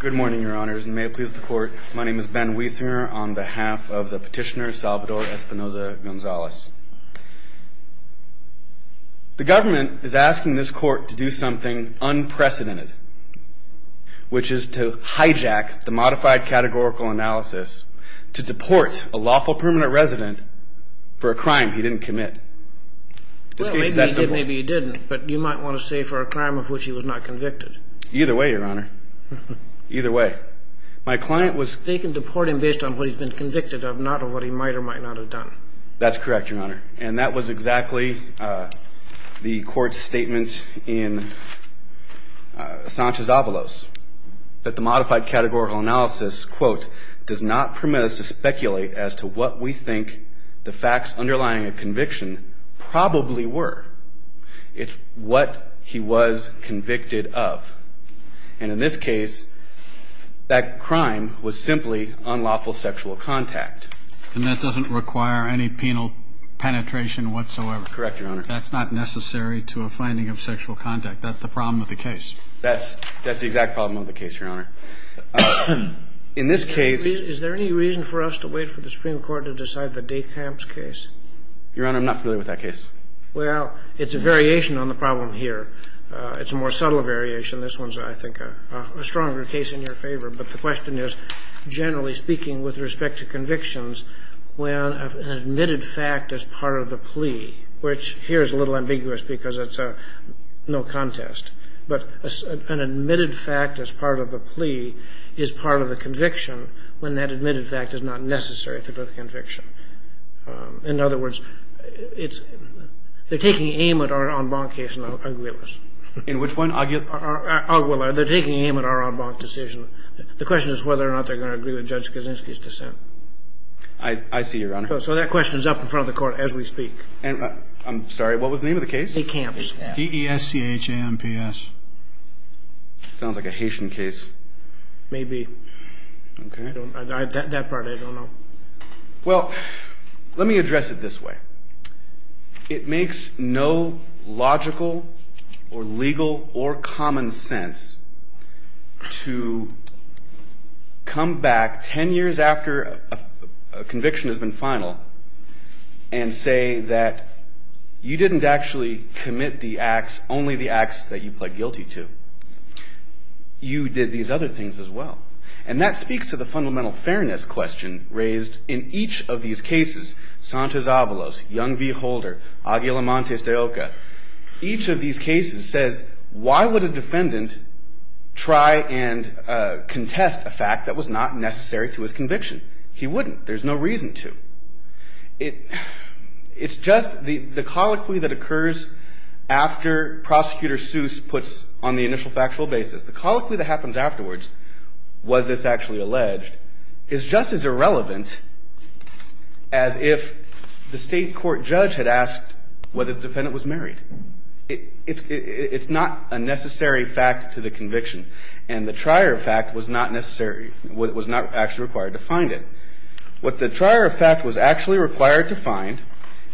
Good morning, Your Honors, and may it please the Court, my name is Ben Wiesinger on behalf of the petitioner Salvador Espinoza-Gonzalez. The government is asking this Court to do something unprecedented, which is to hijack the modified categorical analysis to deport a lawful permanent resident for a crime he didn't commit. Maybe he did, maybe he didn't, but you might want to say for a crime of which he was not convicted. Either way, Your Honor, either way. My client was... They can deport him based on what he's been convicted of, not on what he might or might not have done. That's correct, Your Honor, and that was exactly the Court's statement in Sanchez-Avalos, that the modified categorical analysis, quote, And that doesn't require any penal penetration whatsoever. Correct, Your Honor. That's not necessary to a finding of sexual contact. That's the problem with the case. That's the exact problem with the case, Your Honor. In this case... I think there is. Your Honor, I'm not familiar with that case. Well, it's a variation on the problem here. It's a more subtle variation. This one's, I think, a stronger case in your favor. But the question is, generally speaking, with respect to convictions, when an admitted fact is part of the plea, which here is a little ambiguous because it's no contest, but an admitted fact as part of the plea is part of the conviction when that admitted fact is not necessary to the conviction. In other words, they're taking aim at our en banc case in the Aguilas. In which one? Aguila. They're taking aim at our en banc decision. The question is whether or not they're going to agree with Judge Kaczynski's dissent. I see, Your Honor. So that question is up in front of the Court as we speak. I'm sorry. What was the name of the case? De Camps. D-E-S-C-H-A-M-P-S. Sounds like a Haitian case. Maybe. Okay. That part I don't know. Well, let me address it this way. It makes no logical or legal or common sense to come back 10 years after a conviction has been final and say that you didn't actually commit the acts, only the acts that you pled guilty to. You did these other things as well. And that speaks to the fundamental fairness question raised in each of these cases, Santos Avalos, Young v. Holder, Aguila Montes de Oca. Each of these cases says why would a defendant try and contest a fact that was not necessary to his conviction? He wouldn't. There's no reason to. It's just the colloquy that occurs after Prosecutor Seuss puts on the initial factual basis, the colloquy that happens afterwards, was this actually alleged, is just as irrelevant as if the state court judge had asked whether the defendant was married. It's not a necessary fact to the conviction. And the trier fact was not necessary, was not actually required to find it. What the trier fact was actually required to find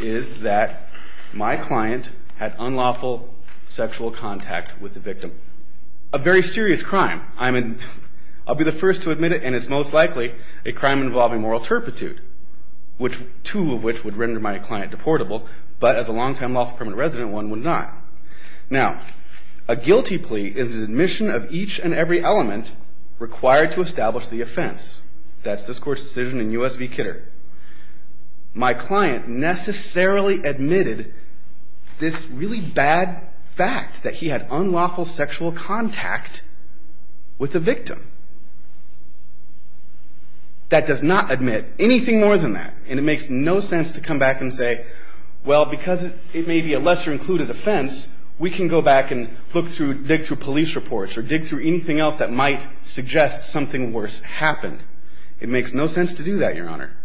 is that my client had unlawful sexual contact with the victim. A very serious crime. I'll be the first to admit it, and it's most likely a crime involving moral turpitude, two of which would render my client deportable. But as a long-time lawful permanent resident, one would not. Now, a guilty plea is an admission of each and every element required to establish the offense. That's this court's decision in U.S. v. Kidder. My client necessarily admitted this really bad fact that he had unlawful sexual contact with the victim. That does not admit anything more than that. And it makes no sense to come back and say, well, because it may be a lesser-included offense, we can go back and look through, dig through police reports or dig through anything else that might suggest something worse happened. It makes no sense to do that, Your Honor.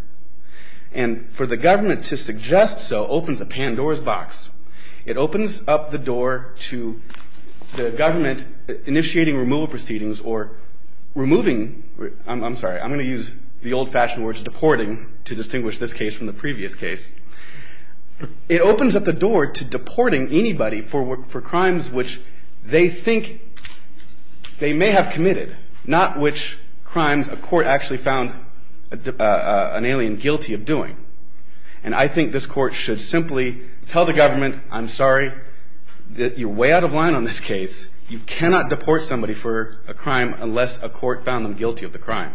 And for the government to suggest so opens a Pandora's box. It opens up the door to the government initiating removal proceedings or removing – I'm sorry, I'm going to use the old-fashioned words deporting to distinguish this case from the previous case. It opens up the door to deporting anybody for crimes which they think they may have committed, not which crimes a court actually found an alien guilty of doing. And I think this court should simply tell the government, I'm sorry, you're way out of line on this case. You cannot deport somebody for a crime unless a court found them guilty of the crime.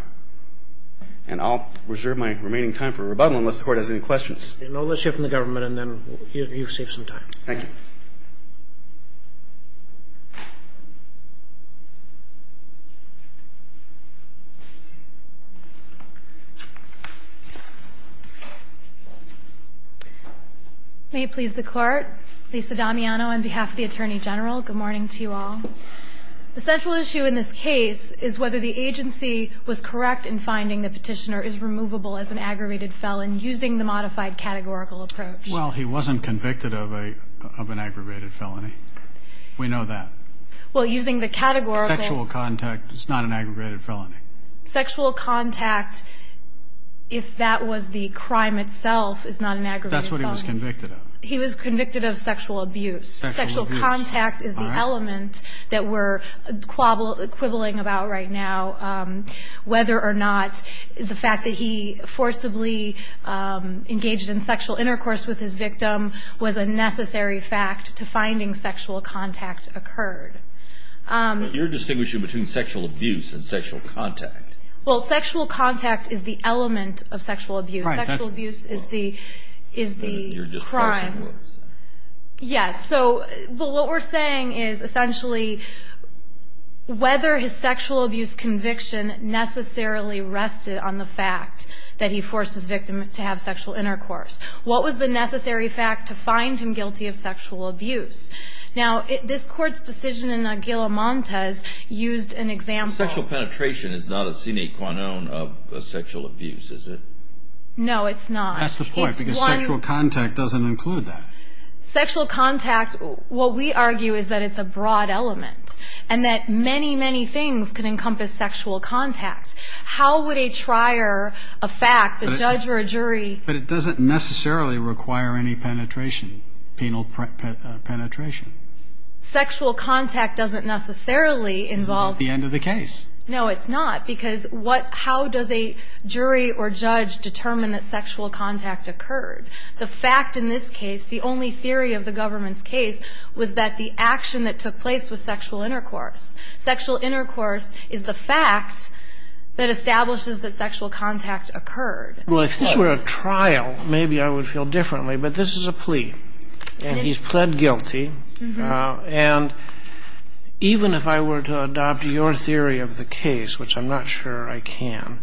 And I'll reserve my remaining time for rebuttal unless the court has any questions. Okay. I'll let you hear from the government, and then you've saved some time. Thank you. May it please the Court. Lisa Damiano on behalf of the Attorney General. Good morning to you all. The central issue in this case is whether the agency was correct in finding the petitioner is removable as an aggravated felon using the modified categorical approach. Well, he wasn't convicted of an aggravated felony. We know that. Well, using the categorical. Sexual contact is not an aggravated felony. Sexual contact, if that was the crime itself, is not an aggravated felony. That's what he was convicted of. He was convicted of sexual abuse. Sexual abuse. Sexual contact is the element that we're quibbling about right now, whether or not the fact that he forcibly engaged in sexual intercourse with his victim was a necessary fact to finding sexual contact occurred. But you're distinguishing between sexual abuse and sexual contact. Well, sexual contact is the element of sexual abuse. Sexual abuse is the crime. You're just questioning what I'm saying. Yes. So what we're saying is, essentially, whether his sexual abuse conviction necessarily rested on the fact that he forced his victim to have sexual intercourse. What was the necessary fact to find him guilty of sexual abuse? Now, this Court's decision in Aguilamontes used an example. Sexual penetration is not a sine qua non of sexual abuse, is it? No, it's not. That's the point, because sexual contact doesn't include that. Sexual contact, what we argue, is that it's a broad element and that many, many things can encompass sexual contact. How would a trier, a fact, a judge or a jury... But it doesn't necessarily require any penetration, penal penetration. Sexual contact doesn't necessarily involve... It's not the end of the case. No, it's not, because how does a jury or judge determine that sexual contact occurred? The fact in this case, the only theory of the government's case, was that the action that took place was sexual intercourse. Sexual intercourse is the fact that establishes that sexual contact occurred. Well, if this were a trial, maybe I would feel differently. But this is a plea, and he's pled guilty. And even if I were to adopt your theory of the case, which I'm not sure I can,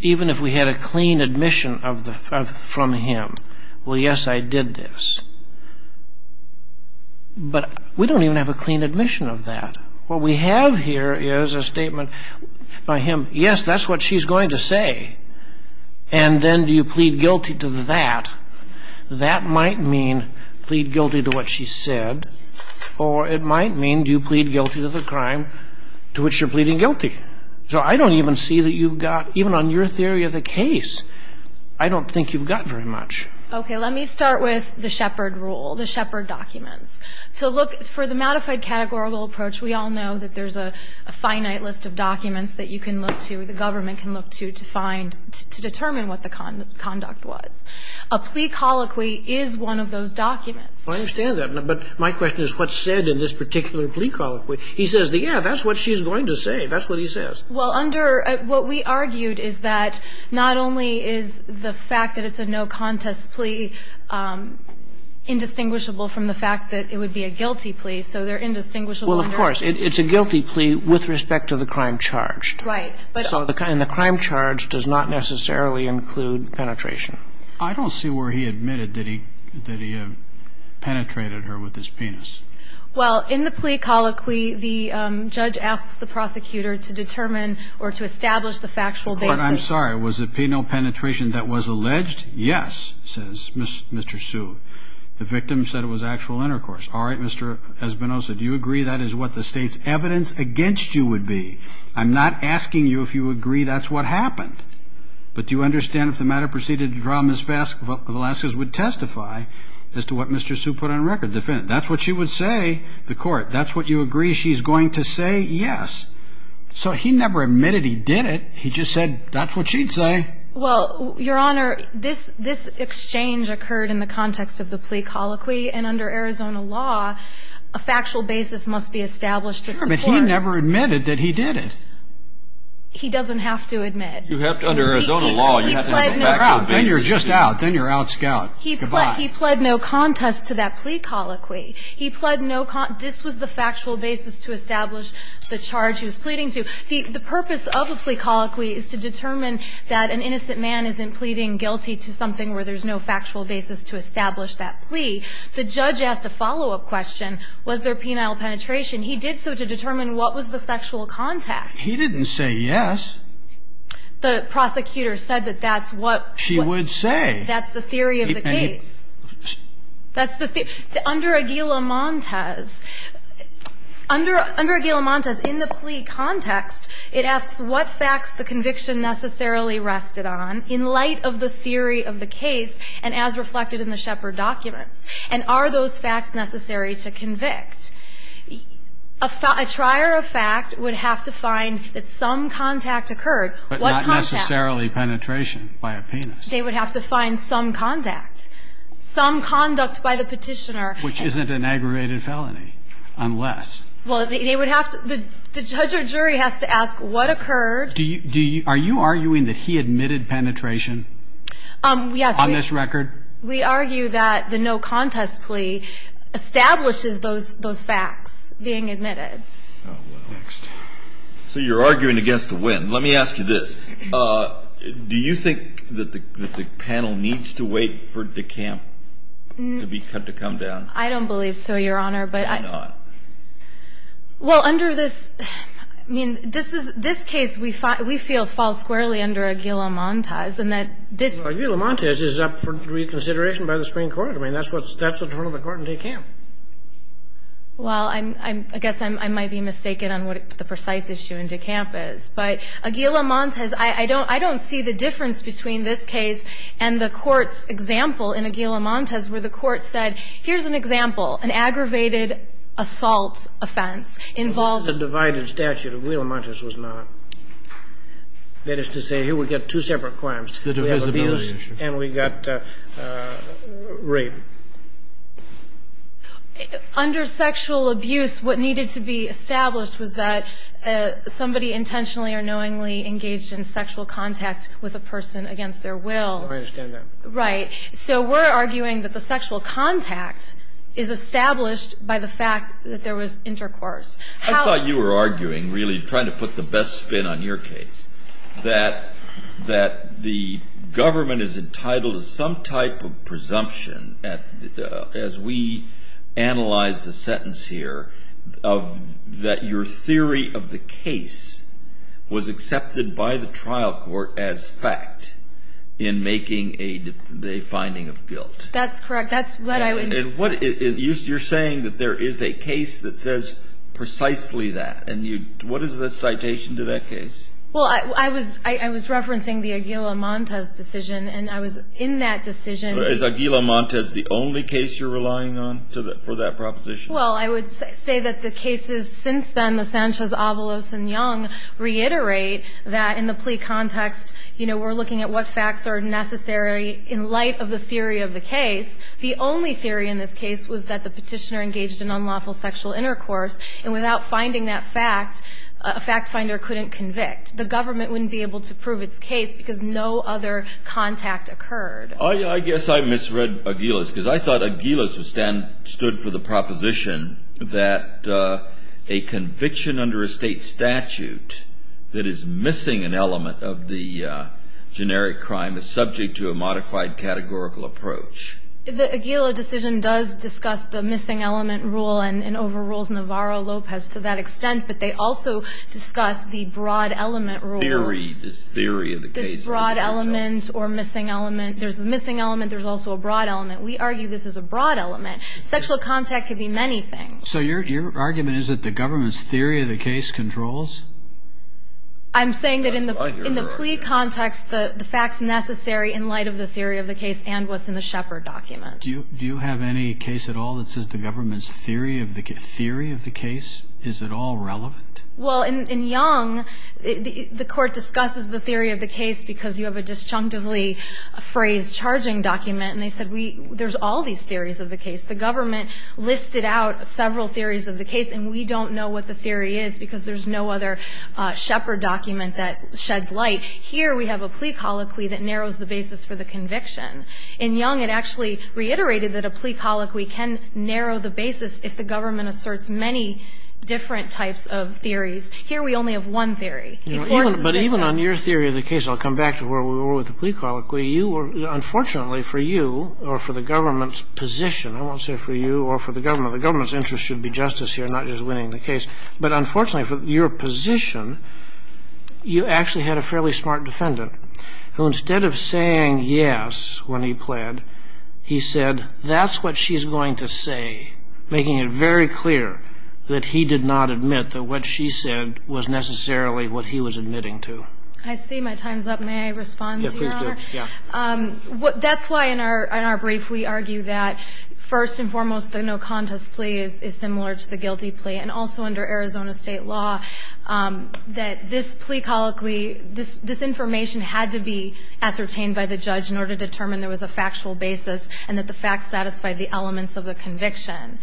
even if we had a clean admission from him, well, yes, I did this, but we don't even have a clean admission of that. What we have here is a statement by him, yes, that's what she's going to say, and then do you plead guilty to that? That might mean plead guilty to what she said, or it might mean do you plead guilty to the crime to which you're pleading guilty. So I don't even see that you've got, even on your theory of the case, I don't think you've got very much. Okay. Let me start with the Shepard rule, the Shepard documents. To look for the modified categorical approach, we all know that there's a finite list of documents that you can look to, the government can look to, to find, to determine what the conduct was. A plea colloquy is one of those documents. I understand that. But my question is what's said in this particular plea colloquy? He says, yeah, that's what she's going to say. That's what he says. Well, under what we argued is that not only is the fact that it's a no-contest plea indistinguishable from the fact that it would be a guilty plea, so they're indistinguishable under the law. Well, of course. It's a guilty plea with respect to the crime charged. Right. And the crime charged does not necessarily include penetration. I don't see where he admitted that he penetrated her with his penis. Well, in the plea colloquy, the judge asks the prosecutor to determine or to establish the factual basis. I'm sorry. Was it penile penetration that was alleged? Yes, says Mr. Sue. The victim said it was actual intercourse. All right, Mr. Espinosa, do you agree that is what the State's evidence against you would be? I'm not asking you if you agree that's what happened. But do you understand if the matter proceeded to draw Ms. Velazquez would testify as to what Mr. Sue put on record? That's what she would say, the Court. That's what you agree she's going to say? Yes. So he never admitted he did it. He just said that's what she'd say. Well, Your Honor, this exchange occurred in the context of the plea colloquy, and under Arizona law, a factual basis must be established to support it. Sure, but he never admitted that he did it. He doesn't have to admit. You have to under Arizona law, you have to have a factual basis. Then you're just out. Then you're out, Scout. Goodbye. He pled no contest to that plea colloquy. He pled no contest. This was the factual basis to establish the charge he was pleading to. The purpose of a plea colloquy is to determine that an innocent man isn't pleading guilty to something where there's no factual basis to establish that plea. The judge asked a follow-up question. Was there penile penetration? He did so to determine what was the sexual contact. He didn't say yes. The prosecutor said that that's what she would say. That's the theory of the case. That's the theory. Under Aguila-Montes, under Aguila-Montes, in the plea context, it asks what facts the conviction necessarily rested on in light of the theory of the case and as reflected in the Shepard documents, and are those facts necessary to convict. A trier of fact would have to find that some contact occurred. What contact? But not necessarily penetration by a penis. They would have to find some contact, some conduct by the petitioner. Which isn't an aggravated felony unless. Well, they would have to. The judge or jury has to ask what occurred. Are you arguing that he admitted penetration on this record? We argue that the no contest plea establishes those facts being admitted. Oh, well. Next. So you're arguing against the win. Let me ask you this. Do you think that the panel needs to wait for DeCamp to be cut to come down? I don't believe so, Your Honor, but. Why not? Well, under this, I mean, this case we feel falls squarely under Aguila-Montes and that this. Aguila-Montes is up for reconsideration by the Supreme Court. I mean, that's what's in front of the court in DeCamp. Well, I guess I might be mistaken on what the precise issue in DeCamp is. But Aguila-Montes, I don't see the difference between this case and the Court's example in Aguila-Montes where the Court said, here's an example, an aggravated assault offense involving. This is a divided statute. Aguila-Montes was not. That is to say, here we've got two separate claims. We have abuse and we've got rape. Under sexual abuse, what needed to be established was that somebody intentionally or knowingly engaged in sexual contact with a person against their will. I understand that. Right. So we're arguing that the sexual contact is established by the fact that there was intercourse. I thought you were arguing, really trying to put the best spin on your case, that the government is entitled to some type of presumption, as we analyze the sentence here, of that your theory of the case was accepted by the trial court as fact in making a finding of guilt. That's correct. That's what I would imply. You're saying that there is a case that says precisely that. And what is the citation to that case? Well, I was referencing the Aguila-Montes decision, and I was in that decision. Is Aguila-Montes the only case you're relying on for that proposition? Well, I would say that the cases since then, the Sanchez-Avalos and Young, reiterate that in the plea context, you know, we're looking at what facts are necessary in light of the theory of the case. The only theory in this case was that the petitioner engaged in unlawful sexual intercourse, and without finding that fact, a fact finder couldn't convict. The government wouldn't be able to prove its case because no other contact occurred. I guess I misread Aguila's, because I thought Aguila's stood for the proposition that a conviction under a state statute that is missing an element of the generic crime is subject to a modified categorical approach. The Aguila decision does discuss the missing element rule and overrules Navarro-Lopez to that extent, but they also discuss the broad element rule. Theory, this theory of the case. This broad element or missing element. There's a missing element. There's also a broad element. We argue this is a broad element. Sexual contact could be many things. So your argument is that the government's theory of the case controls? I'm saying that in the plea context, the facts necessary in light of the theory of the case and what's in the Shepard documents. Do you have any case at all that says the government's theory of the case? Is it all relevant? Well, in Young, the Court discusses the theory of the case because you have a disjunctively phrased charging document, and they said there's all these theories of the case. The government listed out several theories of the case, and we don't know what the theory is because there's no other Shepard document that sheds light. Here, we have a plea colloquy that narrows the basis for the conviction. In Young, it actually reiterated that a plea colloquy can narrow the basis if the government asserts many different types of theories. Here, we only have one theory. But even on your theory of the case, I'll come back to where we were with the plea colloquy, you were unfortunately for you or for the government's position. I won't say for you or for the government. The government's interest should be justice here, not just winning the case. But unfortunately for your position, you actually had a fairly smart defendant who instead of saying yes when he pled, he said that's what she's going to say, making it very clear that he did not admit that what she said was necessarily what he was admitting to. I see my time's up. May I respond to your honor? Yes, please do. That's why in our brief we argue that first and foremost the no contest plea is similar to the guilty plea and also under Arizona state law that this plea colloquy, this information had to be ascertained by the judge in order to determine there was a factual basis and that the facts satisfied the elements of the conviction.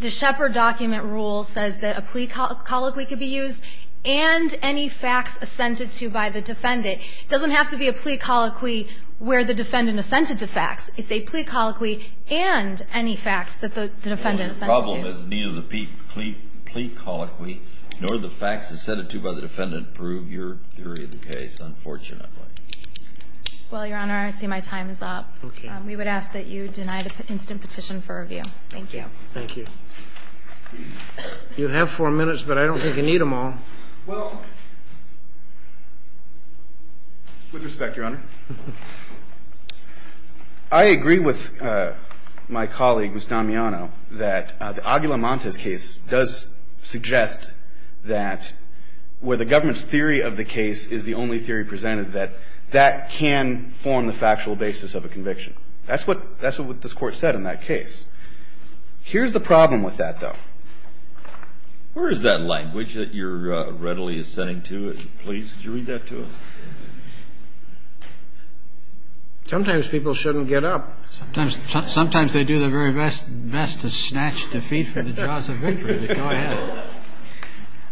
The Shepard document rule says that a plea colloquy could be used and any facts assented to by the defendant. It doesn't have to be a plea colloquy where the defendant assented to facts. It's a plea colloquy and any facts that the defendant assented to. The problem is neither the plea colloquy nor the facts assented to by the defendant prove your theory of the case, unfortunately. Well, your honor, I see my time is up. Okay. We would ask that you deny the instant petition for review. Thank you. Thank you. You have four minutes, but I don't think you need them all. Well, with respect, your honor, I agree with my colleague, Mr. Damiano, that the Aguila Montes case does suggest that where the government's theory of the case is the only theory presented, that that can form the factual basis of a conviction. That's what this Court said in that case. Here's the problem with that, though. Where is that language that you're readily assenting to? Please, could you read that to us? Sometimes people shouldn't get up. Sometimes they do their very best to snatch defeat from the jaws of victory, but go ahead.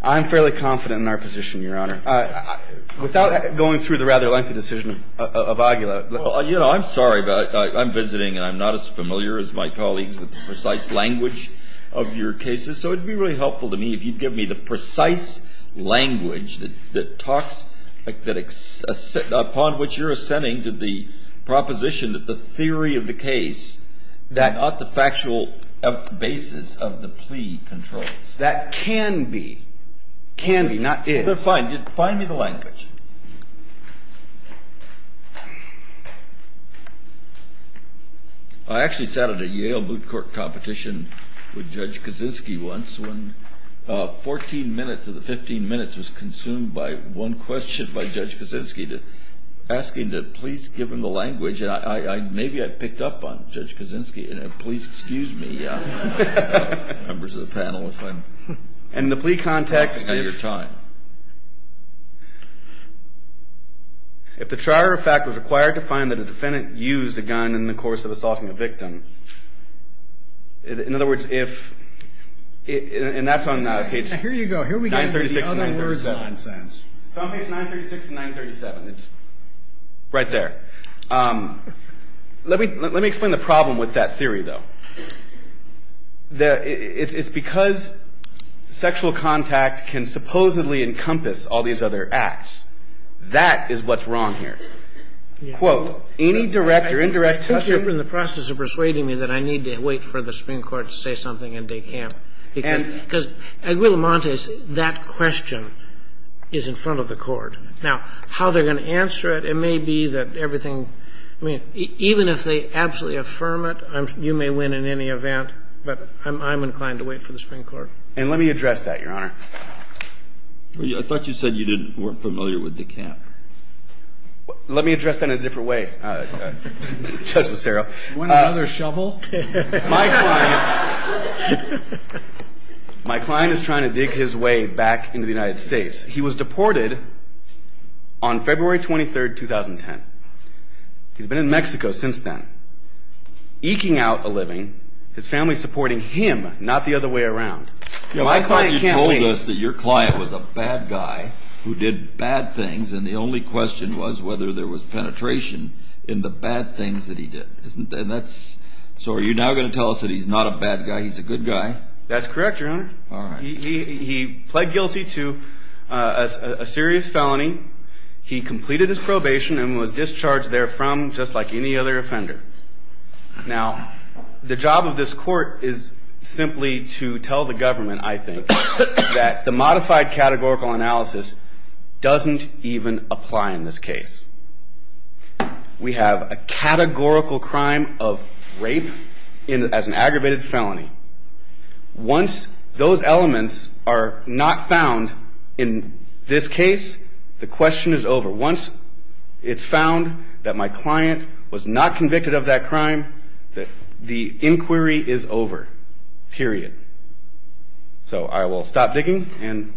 I'm fairly confident in our position, your honor. Without going through the rather lengthy decision of Aguila. You know, I'm sorry, but I'm visiting and I'm not as familiar as my colleagues with the precise language of your cases. So it would be really helpful to me if you'd give me the precise language that talks upon which you're assenting to the proposition that the theory of the case is not the factual basis of the plea controls. That can be. Can be, not is. Fine. Find me the language. I actually sat at a Yale Boot Court competition with Judge Kaczynski once when 14 minutes of the 15 minutes was consumed by one question by Judge Kaczynski asking to please give him the language. And maybe I picked up on Judge Kaczynski. And please excuse me, members of the panel. In the plea context, if the trier of fact was required to find that a defendant used a gun in the course of assaulting a victim. In other words, if, and that's on page 936 and 937. Here you go. 936 and 937. It's on page 936 and 937. It's right there. Let me explain the problem with that theory, though. It's because sexual contact can supposedly encompass all these other acts. That is what's wrong here. Quote, any direct or indirect touch. I think you're in the process of persuading me that I need to wait for the Supreme Court to say something in Descamps. Because Aguilamontes, that question is in front of the Court. Now, how they're going to answer it, it may be that everything, I mean, even if they absolutely affirm it, you may win in any event. But I'm inclined to wait for the Supreme Court. And let me address that, Your Honor. I thought you said you weren't familiar with Descamps. Let me address that in a different way, Judge Lucero. You want another shovel? My client is trying to dig his way back into the United States. He was deported on February 23, 2010. He's been in Mexico since then, eking out a living, his family supporting him, not the other way around. I thought you told us that your client was a bad guy who did bad things, and the only question was whether there was penetration in the bad things that he did. So are you now going to tell us that he's not a bad guy, he's a good guy? That's correct, Your Honor. He pled guilty to a serious felony. He completed his probation and was discharged there from, just like any other offender. Now, the job of this court is simply to tell the government, I think, that the modified categorical analysis doesn't even apply in this case. We have a categorical crime of rape as an aggravated felony. Once those elements are not found in this case, the question is over. Once it's found that my client was not convicted of that crime, the inquiry is over. Period. So I will stop digging.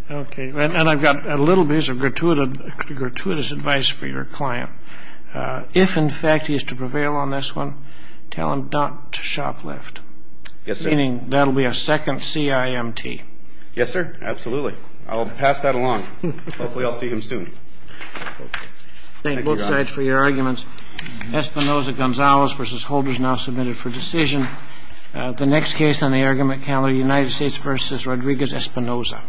Okay. And I've got a little bit of gratuitous advice for your client. If, in fact, he is to prevail on this one, tell him not to shoplift. Yes, sir. Meaning that will be a second CIMT. Yes, sir. Absolutely. I'll pass that along. Hopefully I'll see him soon. Thank you, Your Honor. Thank both sides for your arguments. Espinoza-Gonzalez v. Holder is now submitted for decision. The next case on the argument calendar, United States v. Rodriguez-Espinoza.